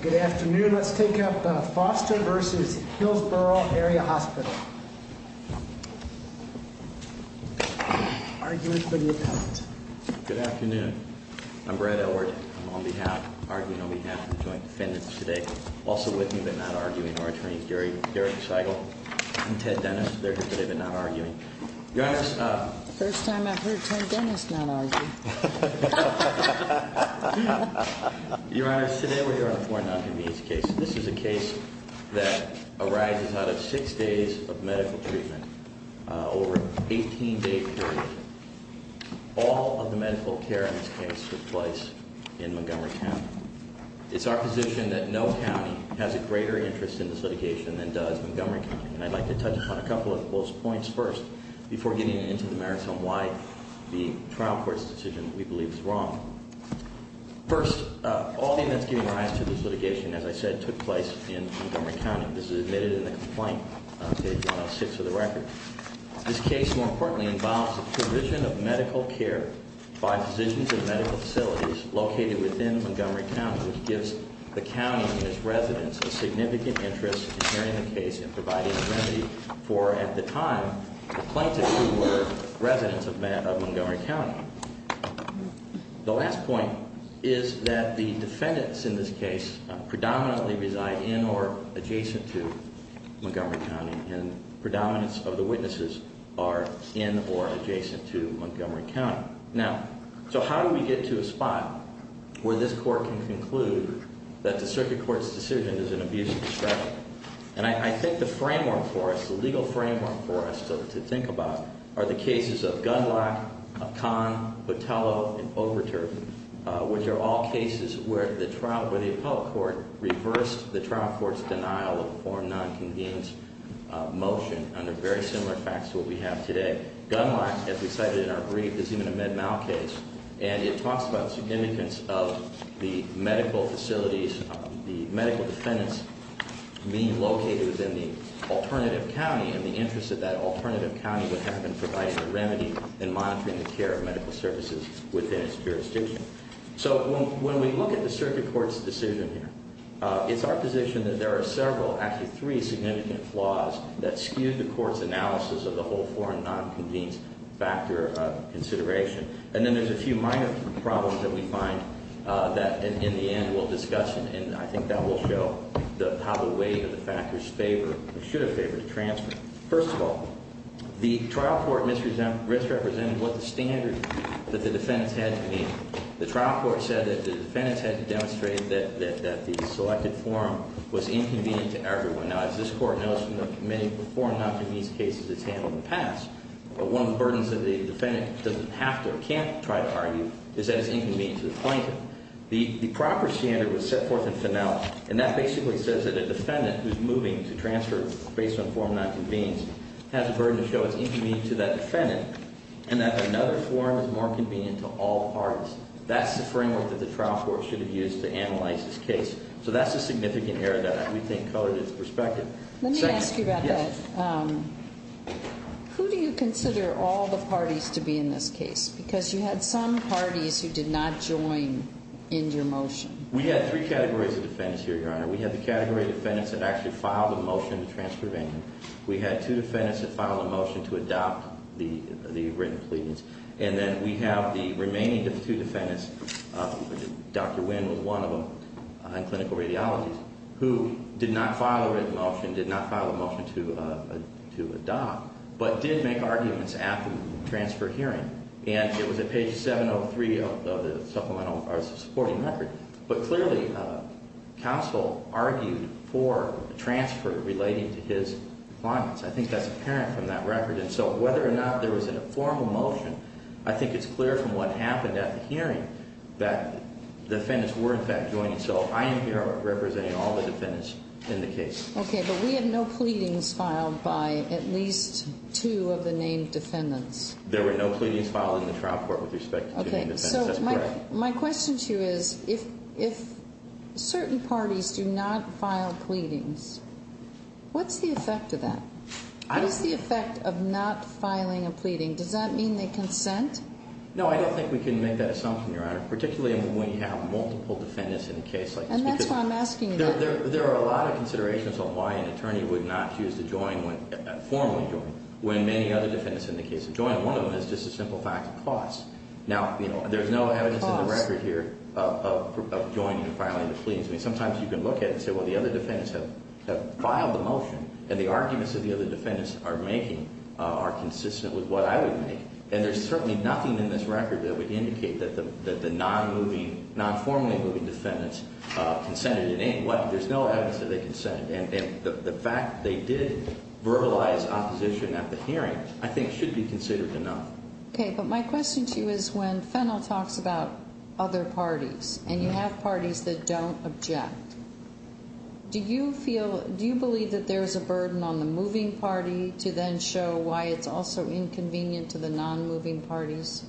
Good afternoon. Let's take up Foster v. Hillsboro Area Hospital. Arguing, but you don't. Good afternoon. I'm Brad Elward. I'm on behalf, arguing on behalf of the Joint Defendants today. Also with me, but not arguing, are Attorney's Gary Scheigel and Ted Dennis. They're here today, but not arguing. Your Honor, it's the first time I've heard Ted Dennis not argue. Your Honor, today we're here on a foreign non-convenience case. This is a case that arises out of six days of medical treatment over an 18-day period. All of the medical care in this case took place in Montgomery County. It's our position that no county has a greater interest in this litigation than does Montgomery County. And I'd like to touch upon a couple of those points first before getting into the merits on why the trial court's decision, we believe, is wrong. First, all the events giving rise to this litigation, as I said, took place in Montgomery County. This is admitted in the complaint, page 106 of the record. This case, more importantly, involves the provision of medical care by physicians in medical facilities located within Montgomery County, which gives the county and its residents a significant interest in hearing the case and providing remedy for, at the time, the plaintiffs who were residents of Montgomery County. The last point is that the defendants in this case predominantly reside in or adjacent to Montgomery County, and predominance of the witnesses are in or adjacent to Montgomery County. Now, so how do we get to a spot where this court can conclude that the circuit court's decision is an abuse of discretion? And I think the framework for us, the legal framework for us to think about, are the cases of Gundlach, Conn, Botello, and Overturf, which are all cases where the trial, where the appellate court reversed the trial court's denial of a foreign non-convenience motion under very similar facts to what we have today. Gundlach, as we cited in our brief, is even a Med-Mal case, and it talks about the significance of the medical facilities, the medical defendants being located within the alternative county and the interest that that alternative county would have in providing a remedy and monitoring the care of medical services within its jurisdiction. So when we look at the circuit court's decision here, it's our position that there are several, actually three, significant flaws that skew the court's analysis of the whole foreign non-convenience factor consideration. And then there's a few minor problems that we find that, in the end, we'll discuss, and I think that will show how the weight of the factors favor or should have favored a transfer. First of all, the trial court misrepresented what the standard that the defendants had to meet. The trial court said that the defendants had to demonstrate that the selected forum was inconvenient to everyone. Now, as this court knows from the many forum non-convenience cases it's handled in the past, one of the burdens that the defendant doesn't have to or can't try to argue is that it's inconvenient to the plaintiff. The proper standard was set forth in finality, and that basically says that a defendant who's moving to transfer based on forum non-convenience has a burden to show it's inconvenient to that defendant, and that another forum is more convenient to all parties. That's the framework that the trial court should have used to analyze this case. So that's a significant error that we think colored its perspective. Let me ask you about that. Yes. Who do you consider all the parties to be in this case? Because you had some parties who did not join in your motion. We had three categories of defendants here, Your Honor. We had the category of defendants that actually filed a motion to transfer Bainman. We had two defendants that filed a motion to adopt the written pleadings. And then we have the remaining two defendants, Dr. Wynn was one of them, in clinical radiology, who did not file a written motion, did not file a motion to adopt, but did make arguments after the transfer hearing. And it was at page 703 of the supplemental or supporting record. But clearly, counsel argued for transfer relating to his clients. I think that's apparent from that record. And so whether or not there was an informal motion, I think it's clear from what happened at the hearing that defendants were, in fact, joining. So I am here representing all the defendants in the case. Okay. But we had no pleadings filed by at least two of the named defendants. There were no pleadings filed in the trial court with respect to two named defendants. That's correct. Okay. So my question to you is if certain parties do not file pleadings, what's the effect of that? What is the effect of not filing a pleading? Does that mean they consent? No, I don't think we can make that assumption, Your Honor, particularly when we have multiple defendants in a case like this. And that's why I'm asking you that. There are a lot of considerations on why an attorney would not choose to join, formally join, when many other defendants in the case have joined. One of them is just a simple fact of cause. Now, you know, there's no evidence in the record here of joining and filing the pleadings. I mean, sometimes you can look at it and say, well, the other defendants have filed the motion, and the arguments that the other defendants are making are consistent with what I would make. And there's certainly nothing in this record that would indicate that the non-moving, non-formally moving defendants consented in any way. There's no evidence that they consented. And the fact they did verbalize opposition at the hearing, I think, should be considered enough. Okay. But my question to you is when Fennell talks about other parties, and you have parties that don't object, do you feel, do you believe that there's a burden on the moving party to then show why it's also inconvenient to the non-moving parties?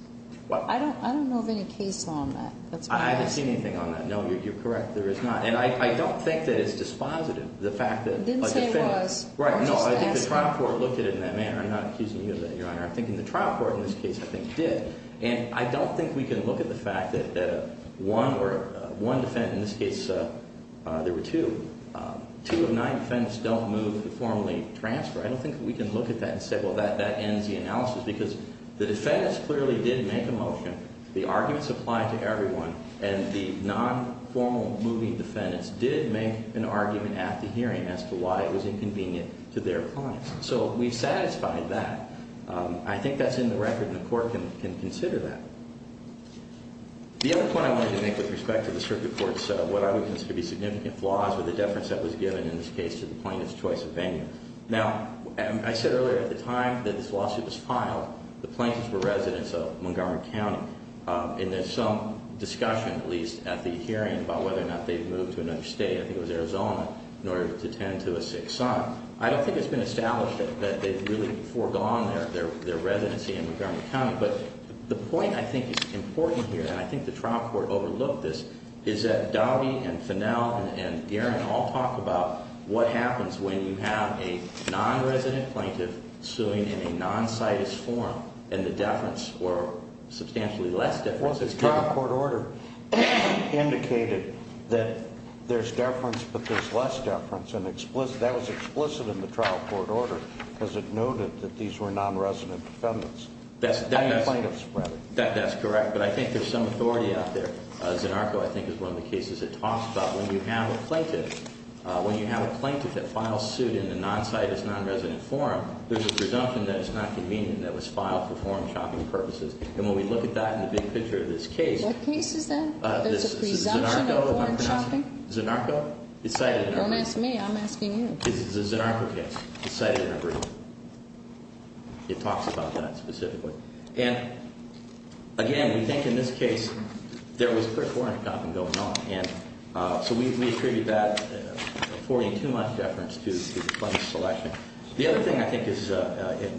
I don't know of any case on that. I haven't seen anything on that. No, you're correct. There is not. And I don't think that it's dispositive, the fact that, like, the defendants. Didn't say it was. Right. No, I think the trial court looked at it in that manner. I'm not accusing you of that, Your Honor. I'm thinking the trial court in this case, I think, did. And I don't think we can look at the fact that one defendant, in this case, there were two. Two of nine defendants don't move to formally transfer. I don't think we can look at that and say, well, that ends the analysis. Because the defendants clearly did make a motion. The arguments apply to everyone. And the non-formal moving defendants did make an argument at the hearing as to why it was inconvenient to their clients. So we've satisfied that. I think that's in the record, and the court can consider that. The other point I wanted to make with respect to the circuit court's what I would consider to be significant flaws or the deference that was given in this case to the plaintiff's choice of venue. Now, I said earlier at the time that this lawsuit was filed, the plaintiffs were residents of Montgomery County. And there's some discussion, at least at the hearing, about whether or not they've moved to another state. I think it was Arizona, in order to tend to a sick son. I don't think it's been established that they've really foregone their residency in Montgomery County. But the point I think is important here, and I think the trial court overlooked this, is that Dowdy and Fennell and Aaron all talk about what happens when you have a non-resident plaintiff suing in a non-citus form and the deference or substantially less deference is given. Well, the trial court order indicated that there's deference but there's less deference. And that was explicit in the trial court order because it noted that these were non-resident defendants. Plaintiffs, rather. That's correct. But I think there's some authority out there. Zanarco, I think, is one of the cases it talks about. When you have a plaintiff that files suit in a non-citus, non-resident form, there's a presumption that it's not convenient and that it was filed for foreign shopping purposes. And when we look at that in the big picture of this case— What case is that? There's a presumption of foreign shopping? Zanarco? Don't ask me. I'm asking you. It's a Zanarco case. It's cited in a brief. It talks about that specifically. And, again, we think in this case there was clear foreign shopping going on. And so we attribute that 42-month deference to the plaintiff's selection. The other thing I think is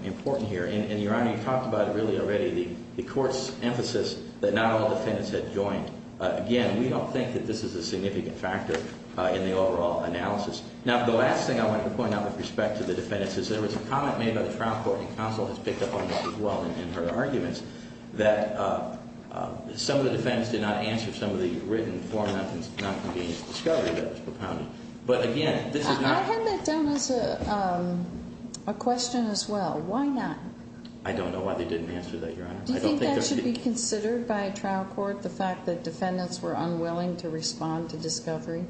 important here, and, Your Honor, you talked about it really already, the court's emphasis that not all defendants had joined. Again, we don't think that this is a significant factor in the overall analysis. Now, the last thing I want to point out with respect to the defendants is there was a comment made by the trial court, and counsel has picked up on this as well in her arguments, that some of the defendants did not answer some of the written, form-not-convenient discovery that was propounded. But, again, this is not— I had that down as a question as well. Why not? I don't know why they didn't answer that, Your Honor. Do you think that should be considered by a trial court, the fact that defendants were unwilling to respond to discovery?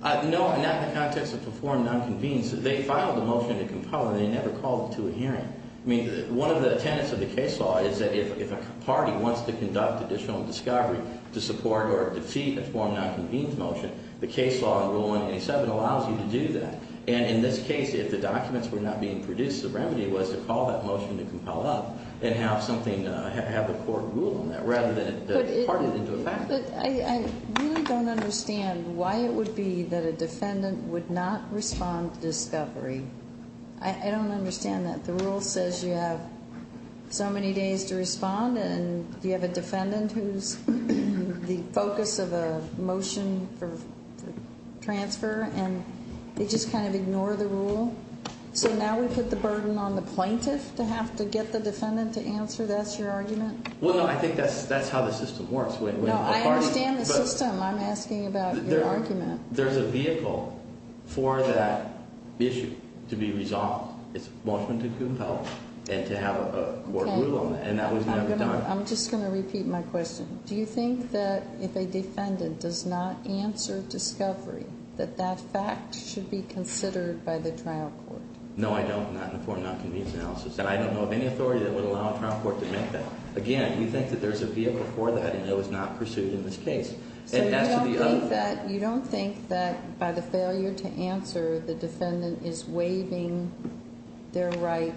No, not in the context of form-not-convenient. They filed a motion to compel, and they never called it to a hearing. I mean, one of the tenets of the case law is that if a party wants to conduct additional discovery to support or defeat a form-not-convenient motion, the case law in Rule 187 allows you to do that. And in this case, if the documents were not being produced, the remedy was to call that motion to compel up and have the court rule on that rather than part it into a package. But I really don't understand why it would be that a defendant would not respond to discovery. I don't understand that. The rule says you have so many days to respond, and you have a defendant who's the focus of a motion for transfer, and they just kind of ignore the rule. So now we put the burden on the plaintiff to have to get the defendant to answer? That's your argument? Well, no, I think that's how the system works. No, I understand the system. I'm asking about your argument. There's a vehicle for that issue to be resolved. It's a motion to compel and to have a court rule on that, and that was never done. I'm just going to repeat my question. Do you think that if a defendant does not answer discovery, that that fact should be considered by the trial court? No, I don't, not in the form of nonconvenience analysis. And I don't know of any authority that would allow a trial court to make that. Again, you think that there's a vehicle for that, and it was not pursued in this case. So you don't think that by the failure to answer, the defendant is waiving their right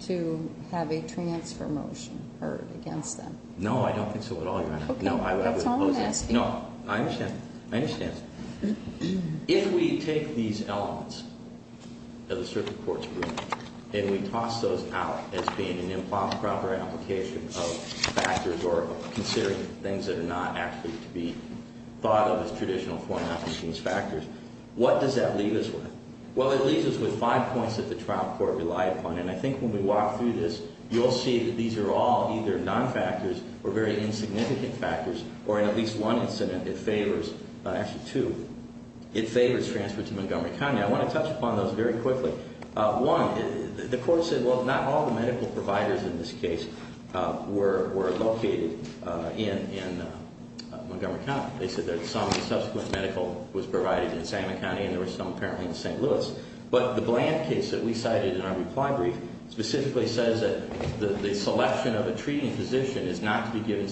to have a transfer motion heard against them? No, I don't think so at all, Your Honor. Okay. That's all I'm asking. No, I understand. I understand. If we take these elements of the circuit court's ruling, and we toss those out as being an improper application of factors or considering things that are not actually to be thought of as traditional form of these factors, what does that leave us with? Well, it leaves us with five points that the trial court relied upon, and I think when we walk through this, you'll see that these are all either non-factors or very insignificant factors, or in at least one incident, it favors, actually two, it favors transfer to Montgomery County. I want to touch upon those very quickly. One, the court said, well, not all the medical providers in this case were located in Montgomery County. They said that some subsequent medical was provided in Salmon County, and there were some apparently in St. Louis. But the Bland case that we cited in our reply brief specifically says that the selection of a treating physician is not to be given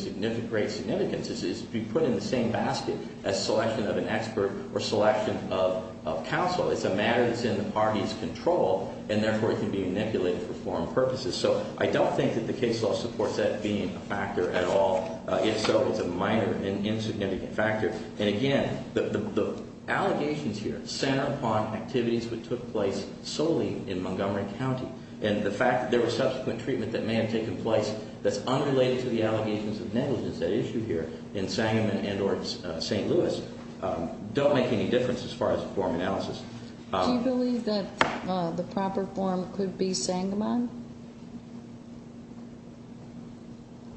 great significance. It's to be put in the same basket as selection of an expert or selection of counsel. It's a matter that's in the party's control, and therefore it can be manipulated for foreign purposes. So I don't think that the case law supports that being a factor at all. If so, it's a minor and insignificant factor. And again, the allegations here center upon activities which took place solely in Montgomery County, and the fact that there was subsequent treatment that may have taken place that's unrelated to the allegations of negligence at issue here in Sangamon and or St. Louis don't make any difference as far as the form analysis. Do you believe that the proper form could be Sangamon?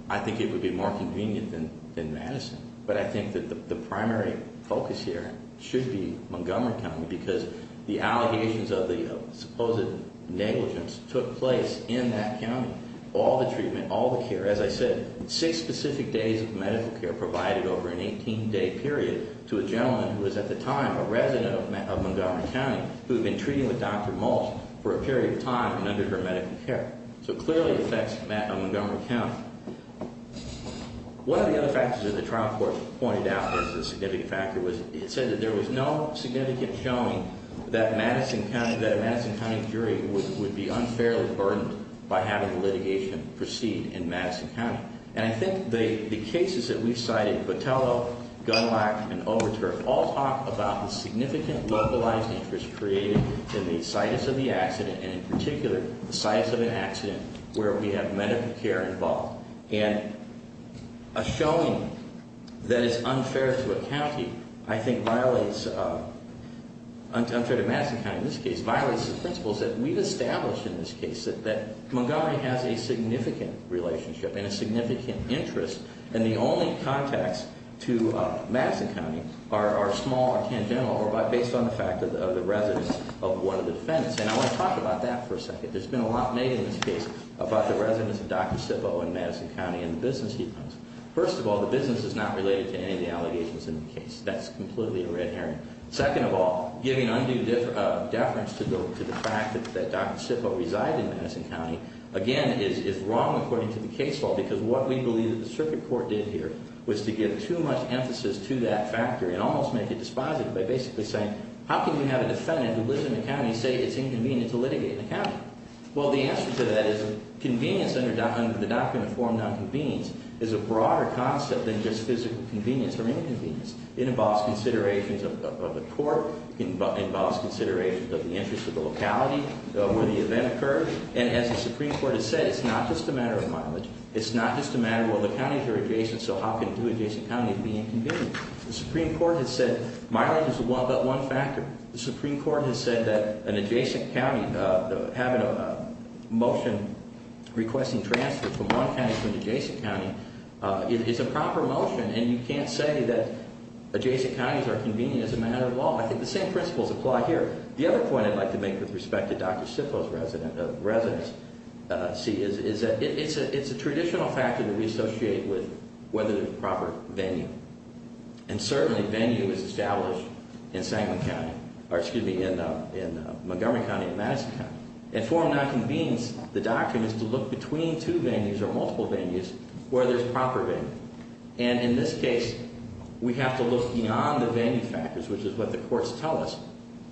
I think it would be more convenient than Madison, but I think that the primary focus here should be Montgomery County because the allegations of the supposed negligence took place in that county. All the treatment, all the care, as I said, six specific days of medical care provided over an 18-day period to a gentleman who was at the time a resident of Montgomery County who had been treating with Dr. Maltz for a period of time and under her medical care. So it clearly affects Montgomery County. One of the other factors that the trial court pointed out as a significant factor was it said that there was no significant showing that a Madison County jury would be unfairly burdened by having the litigation proceed in Madison County. And I think the cases that we've cited, Botello, Gunlock, and Overture, all talk about the significant localized interest created in the situs of the accident and in particular the situs of an accident where we have medical care involved. And a showing that is unfair to a county I think violates, unfair to Madison County in this case, violates the principles that we've established in this case, that Montgomery has a significant relationship and a significant interest and the only contacts to Madison County are small or tangential or based on the fact of the residents of one of the defendants. And I want to talk about that for a second. There's been a lot made in this case about the residents of Dr. Sippo in Madison County and the business he owns. First of all, the business is not related to any of the allegations in the case. That's completely a red herring. Second of all, giving undue deference to the fact that Dr. Sippo resided in Madison County, again, is wrong according to the case law because what we believe the circuit court did here was to give too much emphasis to that factor and almost make it dispositive by basically saying, how can you have a defendant who lives in the county say it's inconvenient to litigate in the county? Well, the answer to that is convenience under the document form nonconvenience is a broader concept than just physical convenience or inconvenience. It involves considerations of the court. It involves considerations of the interest of the locality where the event occurred. And as the Supreme Court has said, it's not just a matter of mileage. It's not just a matter of, well, the counties are adjacent, so how can two adjacent counties be inconvenient? The Supreme Court has said mileage is but one factor. The Supreme Court has said that an adjacent county having a motion requesting transfer from one county to an adjacent county is a proper motion, and you can't say that adjacent counties are convenient as a matter of law. I think the same principles apply here. The other point I'd like to make with respect to Dr. Sippo's residency is that it's a traditional factor that we associate with whether there's proper venue. And certainly venue is established in Montgomery County and Madison County. And form nonconvenience, the doctrine is to look between two venues or multiple venues where there's proper venue. And in this case, we have to look beyond the venue factors, which is what the courts tell us.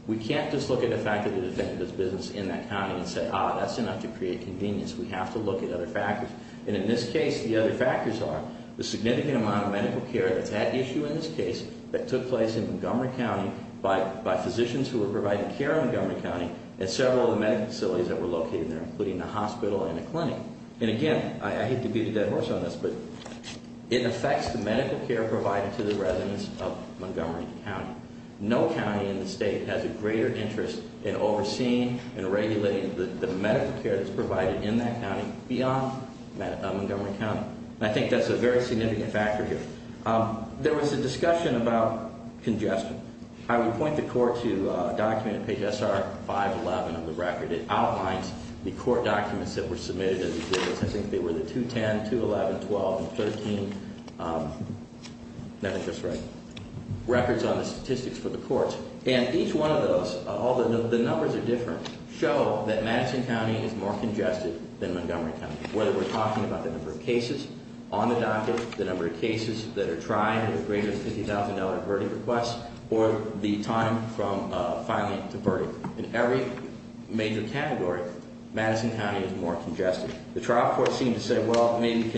We can't just look at the fact that it is business in that county and say, ah, that's enough to create convenience. We have to look at other factors. And in this case, the other factors are the significant amount of medical care that's at issue in this case that took place in Montgomery County by physicians who were providing care in Montgomery County at several of the medical facilities that were located there, including a hospital and a clinic. And again, I hate to beat a dead horse on this, but it affects the medical care provided to the residents of Montgomery County. No county in the state has a greater interest in overseeing and regulating the medical care that's provided in that county beyond Montgomery County. And I think that's a very significant factor here. There was a discussion about congestion. I would point the court to a document on page SR 511 of the record. It outlines the court documents that were submitted. I think they were the 210, 211, 12, and 13 records on the statistics for the courts. And each one of those, although the numbers are different, show that Madison County is more congested than Montgomery County. Whether we're talking about the number of cases on the docket, the number of cases that are tried with greater than $50,000 verdict requests, or the time from filing to verdict. In every major category, Madison County is more congested. The trial court seemed to say, well, maybe it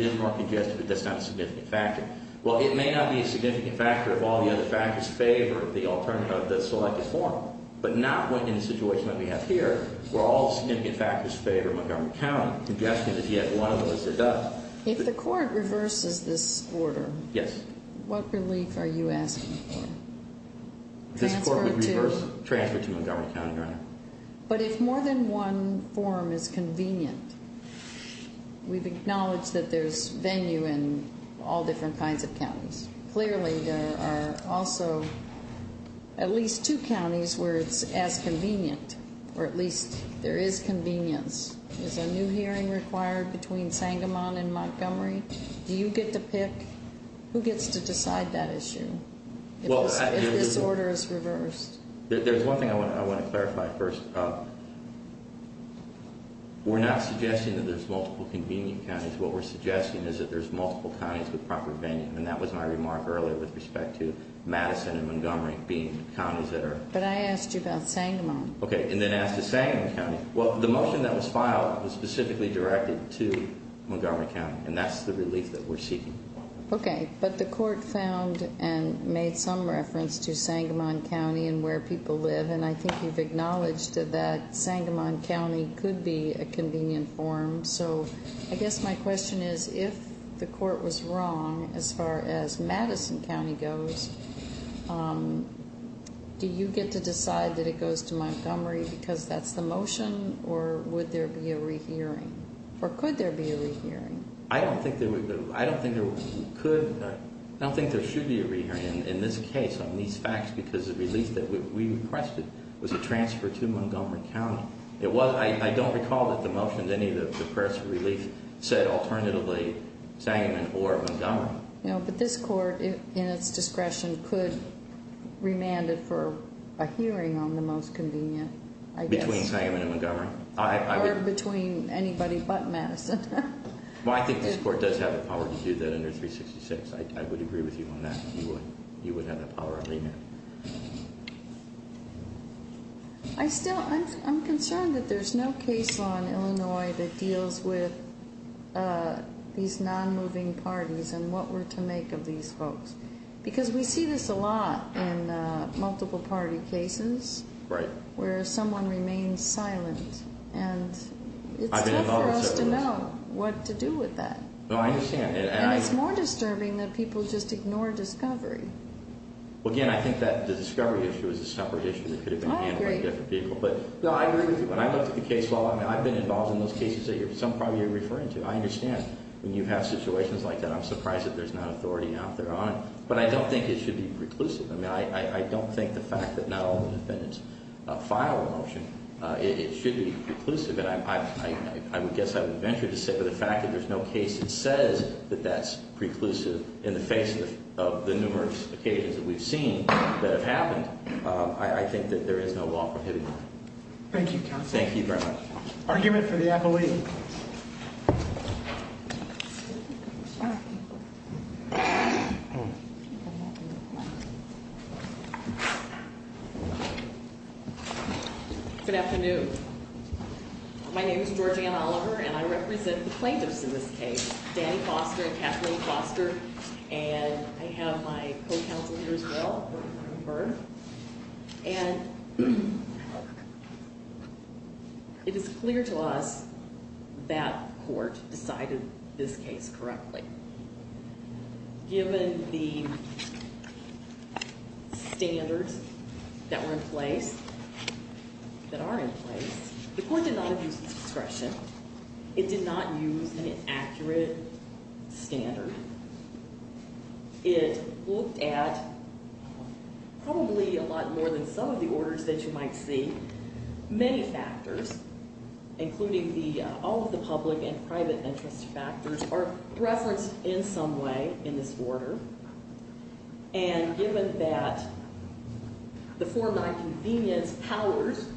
is more congested, but that's not a significant factor. Well, it may not be a significant factor if all the other factors favor the alternative, the selected form. But not in the situation that we have here, where all the significant factors favor Montgomery County. Congestion is yet one of those that does. If the court reverses this order, what relief are you asking for? Transfer to Montgomery County, Your Honor. But if more than one form is convenient, we've acknowledged that there's venue in all different kinds of counties. Clearly, there are also at least two counties where it's as convenient, or at least there is convenience. Is a new hearing required between Sangamon and Montgomery? Do you get to pick? Who gets to decide that issue? If this order is reversed. There's one thing I want to clarify first. We're not suggesting that there's multiple convenient counties. What we're suggesting is that there's multiple counties with proper venue. And that was my remark earlier with respect to Madison and Montgomery being counties that are- But I asked you about Sangamon. Okay, and then as to Sangamon County, well, the motion that was filed was specifically directed to Montgomery County. And that's the relief that we're seeking. Okay, but the court found and made some reference to Sangamon County and where people live. And I think you've acknowledged that Sangamon County could be a convenient form. So I guess my question is, if the court was wrong as far as Madison County goes, do you get to decide that it goes to Montgomery because that's the motion? Or would there be a rehearing? Or could there be a rehearing? I don't think there would- I don't think there could- I don't think there should be a rehearing in this case on these facts because the relief that we requested was a transfer to Montgomery County. It was- I don't recall that the motion, any of the press relief said alternatively Sangamon or Montgomery. No, but this court, in its discretion, could remand it for a hearing on the most convenient, I guess. Between Sangamon and Montgomery? Or between anybody but Madison. Well, I think this court does have the power to do that under 366. I would agree with you on that. You would have the power to remand. I still- I'm concerned that there's no case law in Illinois that deals with these non-moving parties and what we're to make of these folks. Because we see this a lot in multiple party cases where someone remains silent. And it's tough for us to know what to do with that. No, I understand. And it's more disturbing that people just ignore discovery. Well, again, I think that the discovery issue is a separate issue that could have been handled by different people. I agree. No, I agree with you. When I looked at the case law, I've been involved in those cases that you're- some probably you're referring to. I understand when you have situations like that. I'm surprised that there's not authority out there on it. But I don't think it should be reclusive. I mean, I don't think the fact that not all the defendants file a motion, it should be reclusive. And I would guess I would venture to say for the fact that there's no case that says that that's reclusive in the face of the numerous occasions that we've seen that have happened. I think that there is no law prohibiting that. Thank you, counsel. Thank you very much. Argument for the appellee. Good afternoon. My name is Georgiana Oliver, and I represent the plaintiffs in this case, Danny Foster and Kathleen Foster. And I have my co-counsel here as well, Bernie Byrne. And it is clear to us that court decided this case correctly. Given the standards that were in place, that are in place, the court did not abuse its discretion. It did not use an accurate standard. It looked at probably a lot more than some of the orders that you might see. Many factors, including all of the public and private interest factors, are referenced in some way in this order. And given that the four nonconvenience powers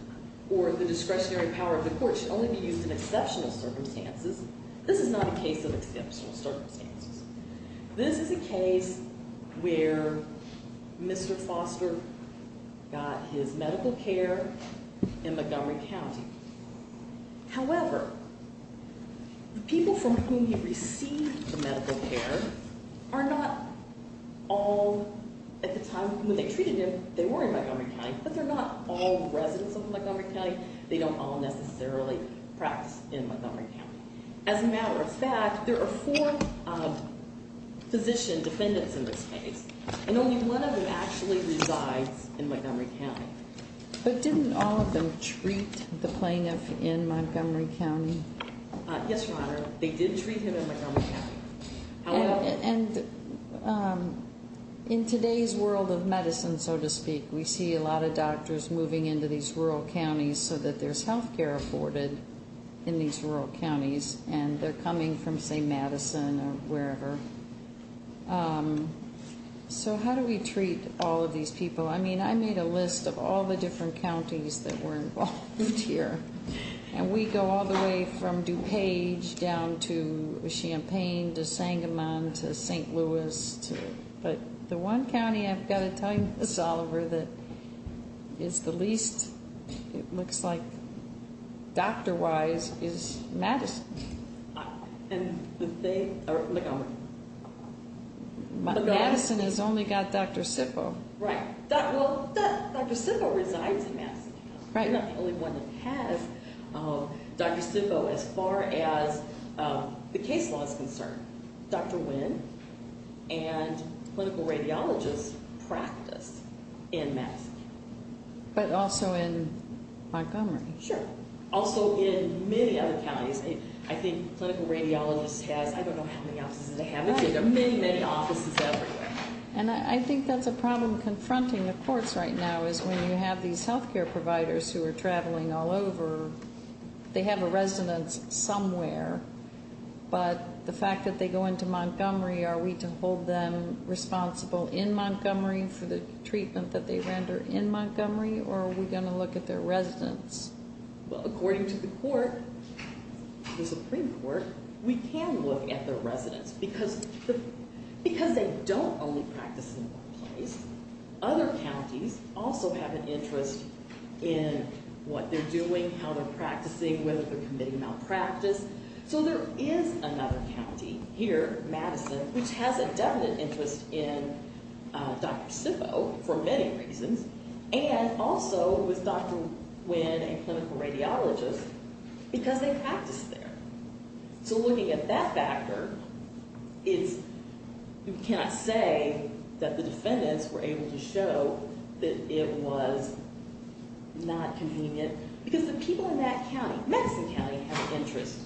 or the discretionary power of the court should only be used in exceptional circumstances, this is not a case of exceptional circumstances. This is a case where Mr. Foster got his medical care in Montgomery County. However, the people from whom he received the medical care are not all, at the time when they treated him, they were in Montgomery County. But they're not all residents of Montgomery County. They don't all necessarily practice in Montgomery County. As a matter of fact, there are four physician defendants in this case. And only one of them actually resides in Montgomery County. But didn't all of them treat the plaintiff in Montgomery County? Yes, Your Honor. They did treat him in Montgomery County. And in today's world of medicine, so to speak, we see a lot of doctors moving into these rural counties so that there's health care afforded in these rural counties. And they're coming from, say, Madison or wherever. So how do we treat all of these people? I mean, I made a list of all the different counties that were involved here. And we go all the way from DuPage down to Champaign, to Sangamon, to St. Louis. But the one county, I've got to tell you this, Oliver, that is the least, it looks like, doctor-wise, is Madison. Madison has only got Dr. Sipo. Right. Well, Dr. Sipo resides in Madison County. I'm not the only one that has Dr. Sipo. As far as the case law is concerned, Dr. Wynn and clinical radiologists practice in Madison County. But also in Montgomery. Sure. Also in many other counties. I think clinical radiologists has, I don't know how many offices they have, but there are many, many offices everywhere. And I think that's a problem confronting the courts right now, is when you have these health care providers who are traveling all over. They have a residence somewhere. But the fact that they go into Montgomery, are we to hold them responsible in Montgomery for the treatment that they render in Montgomery? Or are we going to look at their residence? Well, according to the court, the Supreme Court, we can look at their residence. Because they don't only practice in one place. Other counties also have an interest in what they're doing, how they're practicing, whether they're committing malpractice. So there is another county here, Madison, which has a definite interest in Dr. Sipo for many reasons. And also with Dr. Wynn and clinical radiologists because they practice there. So looking at that factor, it's, you cannot say that the defendants were able to show that it was not convenient. Because the people in that county, Madison County, have an interest,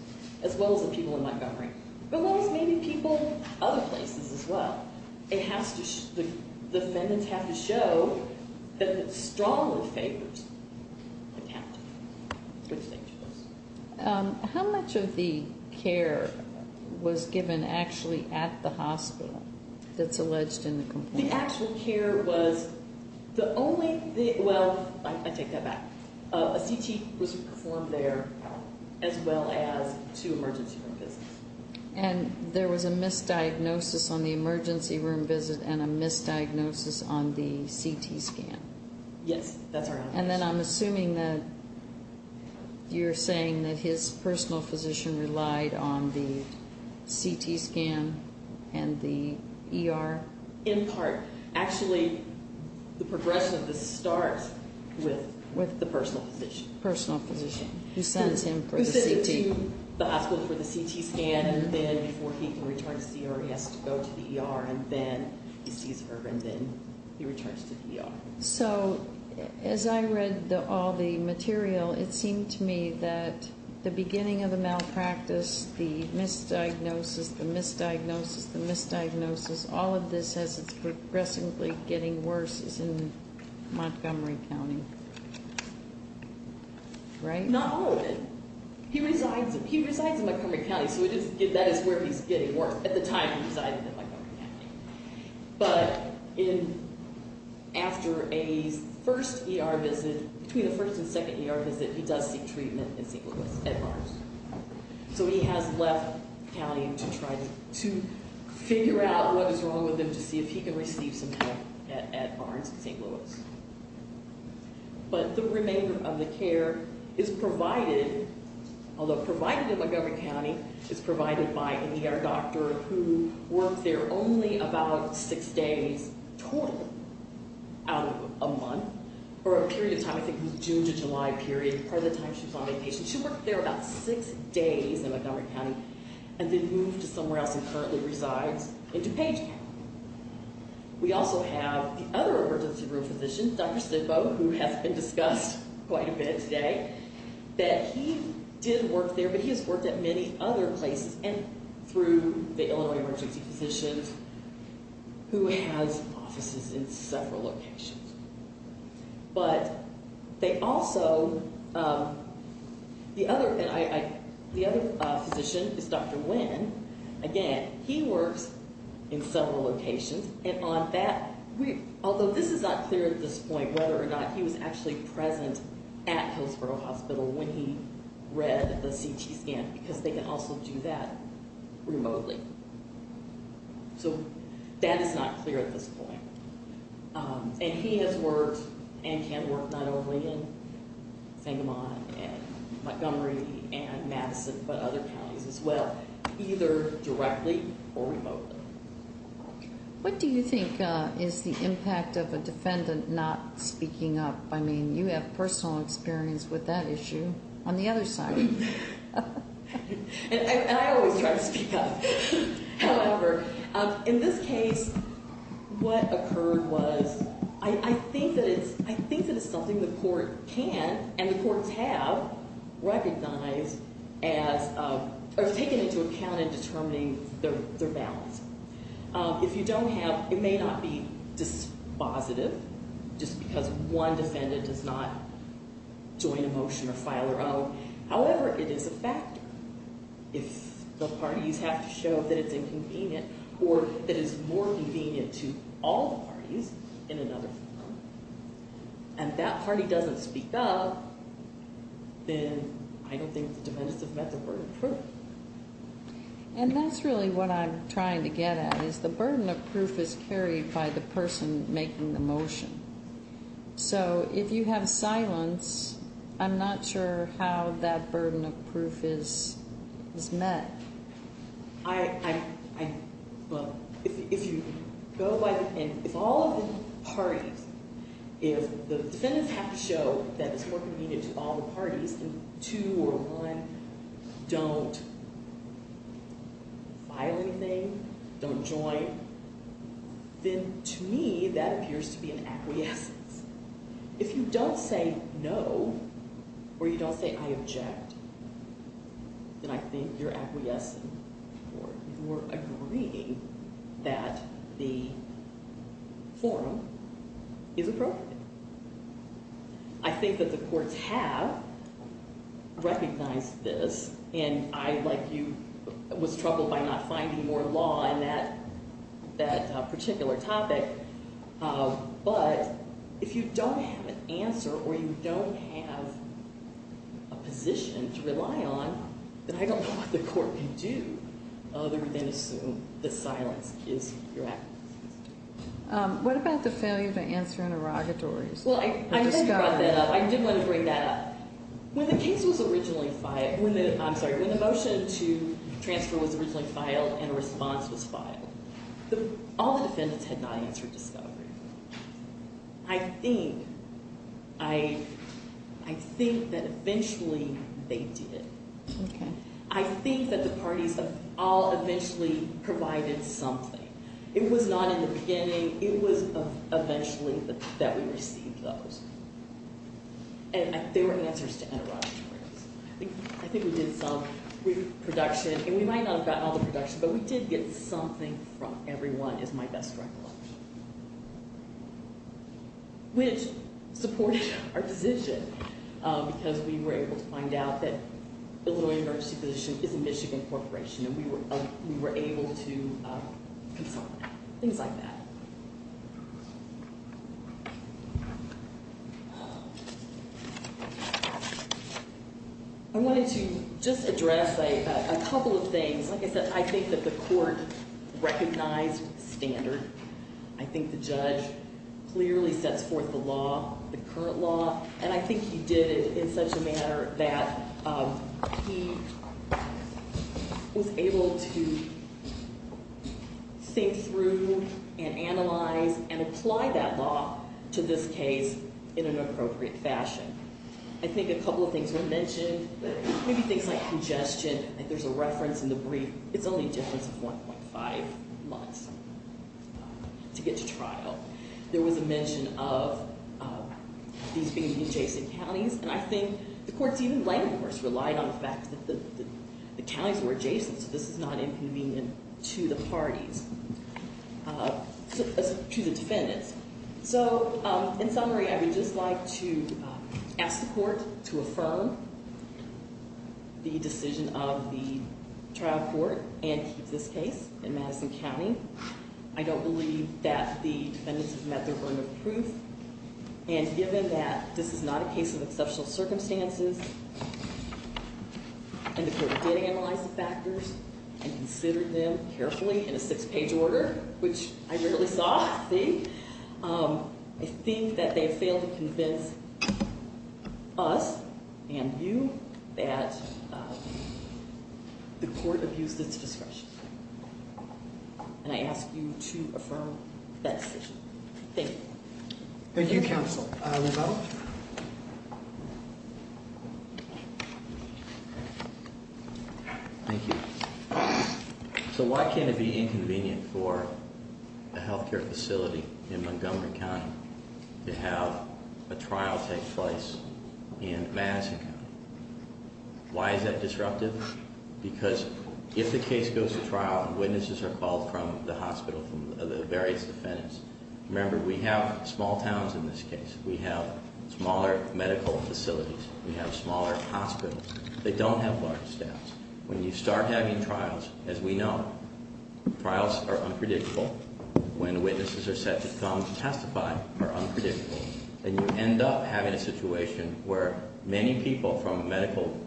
as well as the people in Montgomery. But maybe people other places as well. It has to, the defendants have to show that it strongly favors the county, which they chose. How much of the care was given actually at the hospital that's alleged in the complaint? The actual care was the only, well, I take that back. A CT was performed there as well as two emergency room visits. And there was a misdiagnosis on the emergency room visit and a misdiagnosis on the CT scan? Yes, that's our answer. And then I'm assuming that you're saying that his personal physician relied on the CT scan and the ER? In part. Actually, the progression of this starts with the personal physician. Personal physician, who sends him for the CT. Who sends him to the hospital for the CT scan. And then before he can return to see her, he has to go to the ER. And then he returns to the ER. So as I read all the material, it seemed to me that the beginning of the malpractice, the misdiagnosis, the misdiagnosis, the misdiagnosis, all of this as it's progressively getting worse is in Montgomery County, right? Not all of it. He resides in Montgomery County, so that is where he's getting worse at the time he resided in Montgomery County. But after a first ER visit, between the first and second ER visit, he does seek treatment in St. Louis at Barnes. So he has left the county to try to figure out what is wrong with him to see if he can receive some help at Barnes in St. Louis. But the remainder of the care is provided, although provided in Montgomery County, is provided by an ER doctor who worked there only about six days total out of a month. Or a period of time, I think it was June to July period, part of the time she was on vacation. She worked there about six days in Montgomery County and then moved to somewhere else and currently resides in DuPage County. We also have the other emergency room physician, Dr. Sidboe, who has been discussed quite a bit today. That he did work there, but he has worked at many other places and through the Illinois Emergency Physicians, who has offices in several locations. But they also, the other physician is Dr. Nguyen, again, he works in several locations. And on that, although this is not clear at this point whether or not he was actually present at Hillsborough Hospital when he read the CT scan, because they can also do that remotely. So that is not clear at this point. And he has worked and can work not only in Fingerman and Montgomery and Madison, but other counties as well, either directly or remotely. What do you think is the impact of a defendant not speaking up? I mean, you have personal experience with that issue on the other side. And I always try to speak up. However, in this case, what occurred was, I think that it's something the court can and the courts have recognized as, or taken into account in determining their balance. If you don't have, it may not be dispositive, just because one defendant does not join a motion or file their own. However, it is a factor. If the parties have to show that it's inconvenient or that it's more convenient to all the parties in another firm, and that party doesn't speak up, then I don't think the defendants have met their burden of proof. And that's really what I'm trying to get at, is the burden of proof is carried by the person making the motion. So, if you have silence, I'm not sure how that burden of proof is met. I, well, if you go by the, and if all of the parties, if the defendants have to show that it's more convenient to all the parties, and two or one don't file anything, don't join, then to me, that appears to be an acquiescence. If you don't say no, or you don't say I object, then I think you're acquiescing or you're agreeing that the forum is appropriate. I think that the courts have recognized this, and I, like you, was troubled by not finding more law in that particular topic, but if you don't have an answer or you don't have a position to rely on, then I don't know what the court can do other than assume that silence is your acquiescence. What about the failure to answer interrogatories? Well, I did want to bring that up. When the case was originally filed, I'm sorry, when the motion to transfer was originally filed and a response was filed, all the defendants had not answered discovery. I think, I think that eventually they did. I think that the parties all eventually provided something. It was not in the beginning. It was eventually that we received those, and they were answers to interrogatories. I think we did some reproduction, and we might not have gotten all the production, but we did get something from everyone is my best recollection. Which supported our position, because we were able to find out that the Illinois Emergency Physician is a Michigan corporation, and we were able to consult, things like that. I wanted to just address a couple of things. Like I said, I think that the court recognized standard. I think the judge clearly sets forth the law, the current law, and I think he did it in such a manner that he was able to think through and analyze and apply that law to this case. In an appropriate fashion. I think a couple of things were mentioned. Maybe things like congestion. There's a reference in the brief. It's only a difference of 1.5 months to get to trial. There was a mention of these being adjacent counties, and I think the court's even language relied on the fact that the counties were adjacent. So this is not inconvenient to the parties, to the defendants. So in summary, I would just like to ask the court to affirm the decision of the trial court and keep this case in Madison County. I don't believe that the defendants have met their burden of proof. And given that this is not a case of exceptional circumstances, and the court did analyze the factors and considered them carefully in a six-page order, which I rarely saw. The last thing, I think that they failed to convince us and you that the court abused its discretion. And I ask you to affirm that decision. Thank you. Thank you, counsel. Thank you. So why can it be inconvenient for a healthcare facility in Montgomery County to have a trial take place in Madison County? Why is that disruptive? Because if the case goes to trial and witnesses are called from the hospital, from the various defendants, remember we have small towns in this case. We have smaller medical facilities. We have smaller hospitals. They don't have large staffs. We're having trials, as we know. Trials are unpredictable. When witnesses are set to come to testify, they're unpredictable. And you end up having a situation where many people from a medical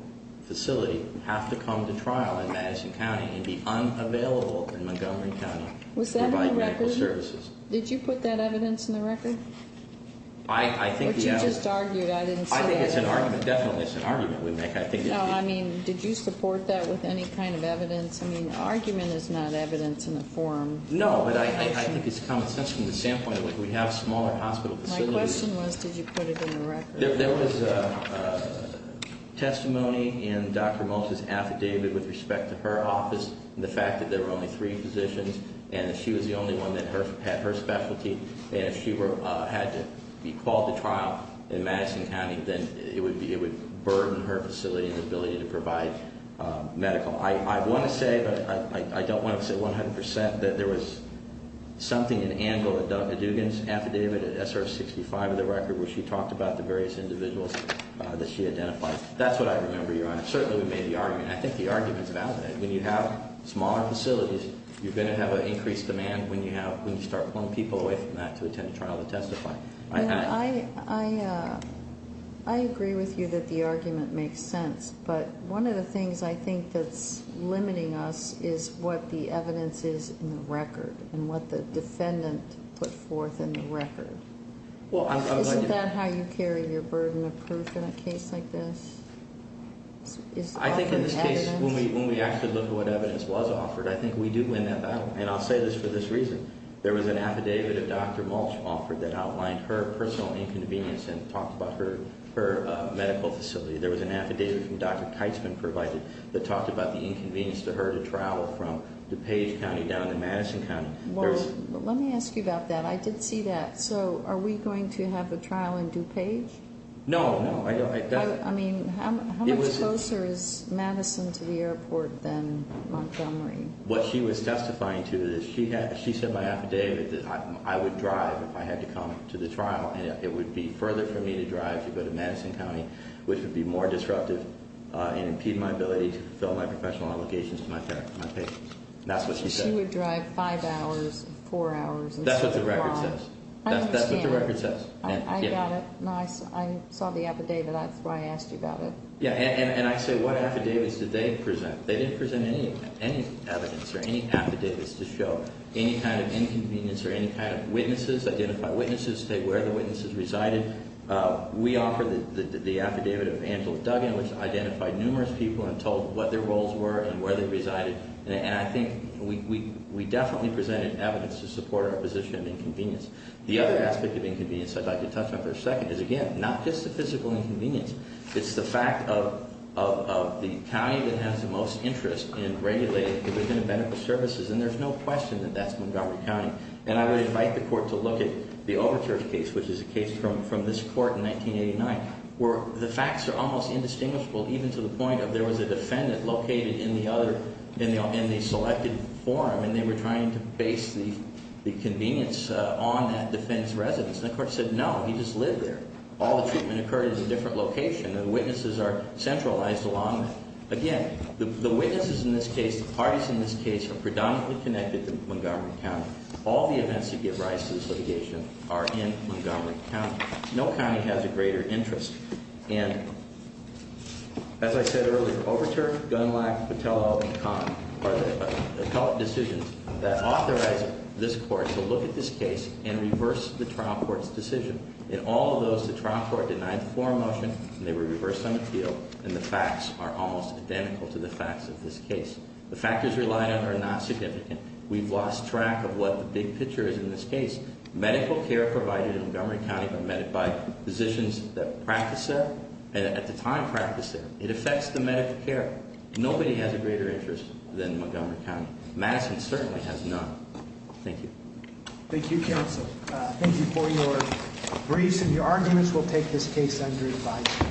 facility have to come to trial in Madison County and be unavailable in Montgomery County to provide medical services. Was that in the record? Did you put that evidence in the record? What you just argued, I didn't say that. I think it's an argument. Definitely it's an argument. No, I mean, did you support that with any kind of evidence? I mean, argument is not evidence in the form. No, but I think it's common sense from the standpoint that we have smaller hospital facilities. My question was, did you put it in the record? There was testimony in Dr. Moses' affidavit with respect to her office, the fact that there were only three physicians, and that she was the only one that had her specialty. And if she had to be called to trial in Madison County, then it would burden her facility and her ability to provide medical. I want to say, but I don't want to say 100% that there was something in Angela Duggan's affidavit, SR 65 of the record, where she talked about the various individuals that she identified. That's what I remember, Your Honor. Certainly we made the argument. I think the argument is valid. When you have smaller facilities, you're going to have an increased demand when you start pulling people away from that to attend a trial to testify. I agree with you that the argument makes sense. But one of the things I think that's limiting us is what the evidence is in the record and what the defendant put forth in the record. Isn't that how you carry your burden of proof in a case like this? I think in this case, when we actually look at what evidence was offered, I think we do win that battle. And I'll say this for this reason. There was an affidavit that Dr. Mulch offered that outlined her personal inconvenience and talked about her medical facility. There was an affidavit that Dr. Keitzman provided that talked about the inconvenience to her to travel from DuPage County down to Madison County. Let me ask you about that. I did see that. So are we going to have a trial in DuPage? No, no. How much closer is Madison to the airport than Montgomery? What she was testifying to is she said in my affidavit that I would drive if I had to come to the trial. It would be further for me to drive to go to Madison County, which would be more disruptive and impede my ability to fulfill my professional obligations to my patients. That's what she said. She would drive five hours, four hours. That's what the record says. I understand. That's what the record says. I saw the affidavit. That's why I asked you about it. And I say what affidavits did they present? They didn't present any evidence or any affidavits to show any kind of inconvenience or any kind of witnesses, identify witnesses, say where the witnesses resided. We offered the affidavit of Angela Duggan, which identified numerous people and told what their roles were and where they resided. The other aspect of inconvenience I'd like to touch on for a second is, again, not just the physical inconvenience. It's the fact of the county that has the most interest in regulating the benefit of medical services. And there's no question that that's Montgomery County. And I would invite the court to look at the Overture case, which is a case from this court in 1989, where the facts are almost indistinguishable, even to the point of there was a defendant located in the other, in the selected forum. And they were trying to base the convenience on that defendant's residence. And the court said, no, he just lived there. All the treatment occurred at a different location. The witnesses are centralized along that. Again, the witnesses in this case, the parties in this case are predominantly connected to Montgomery County. All the events that give rise to this litigation are in Montgomery County. No county has a greater interest. And as I said earlier, Overture, Gundlach, Patello, and Kahn are the appellate decisions that authorize this court to look at this case and reverse the trial court's decision. In all of those, the trial court denied the forum motion, and they were reversed on appeal, and the facts are almost identical to the facts of this case. The factors relied on are not significant. We've lost track of what the big picture is in this case. Medical care provided in Montgomery County by physicians that practice there and at the time practiced there. It affects the medical care. Nobody has a greater interest than Montgomery County. Madison certainly has none. Thank you. Thank you, counsel. Thank you for your briefs, and your arguments will take this case under advisory.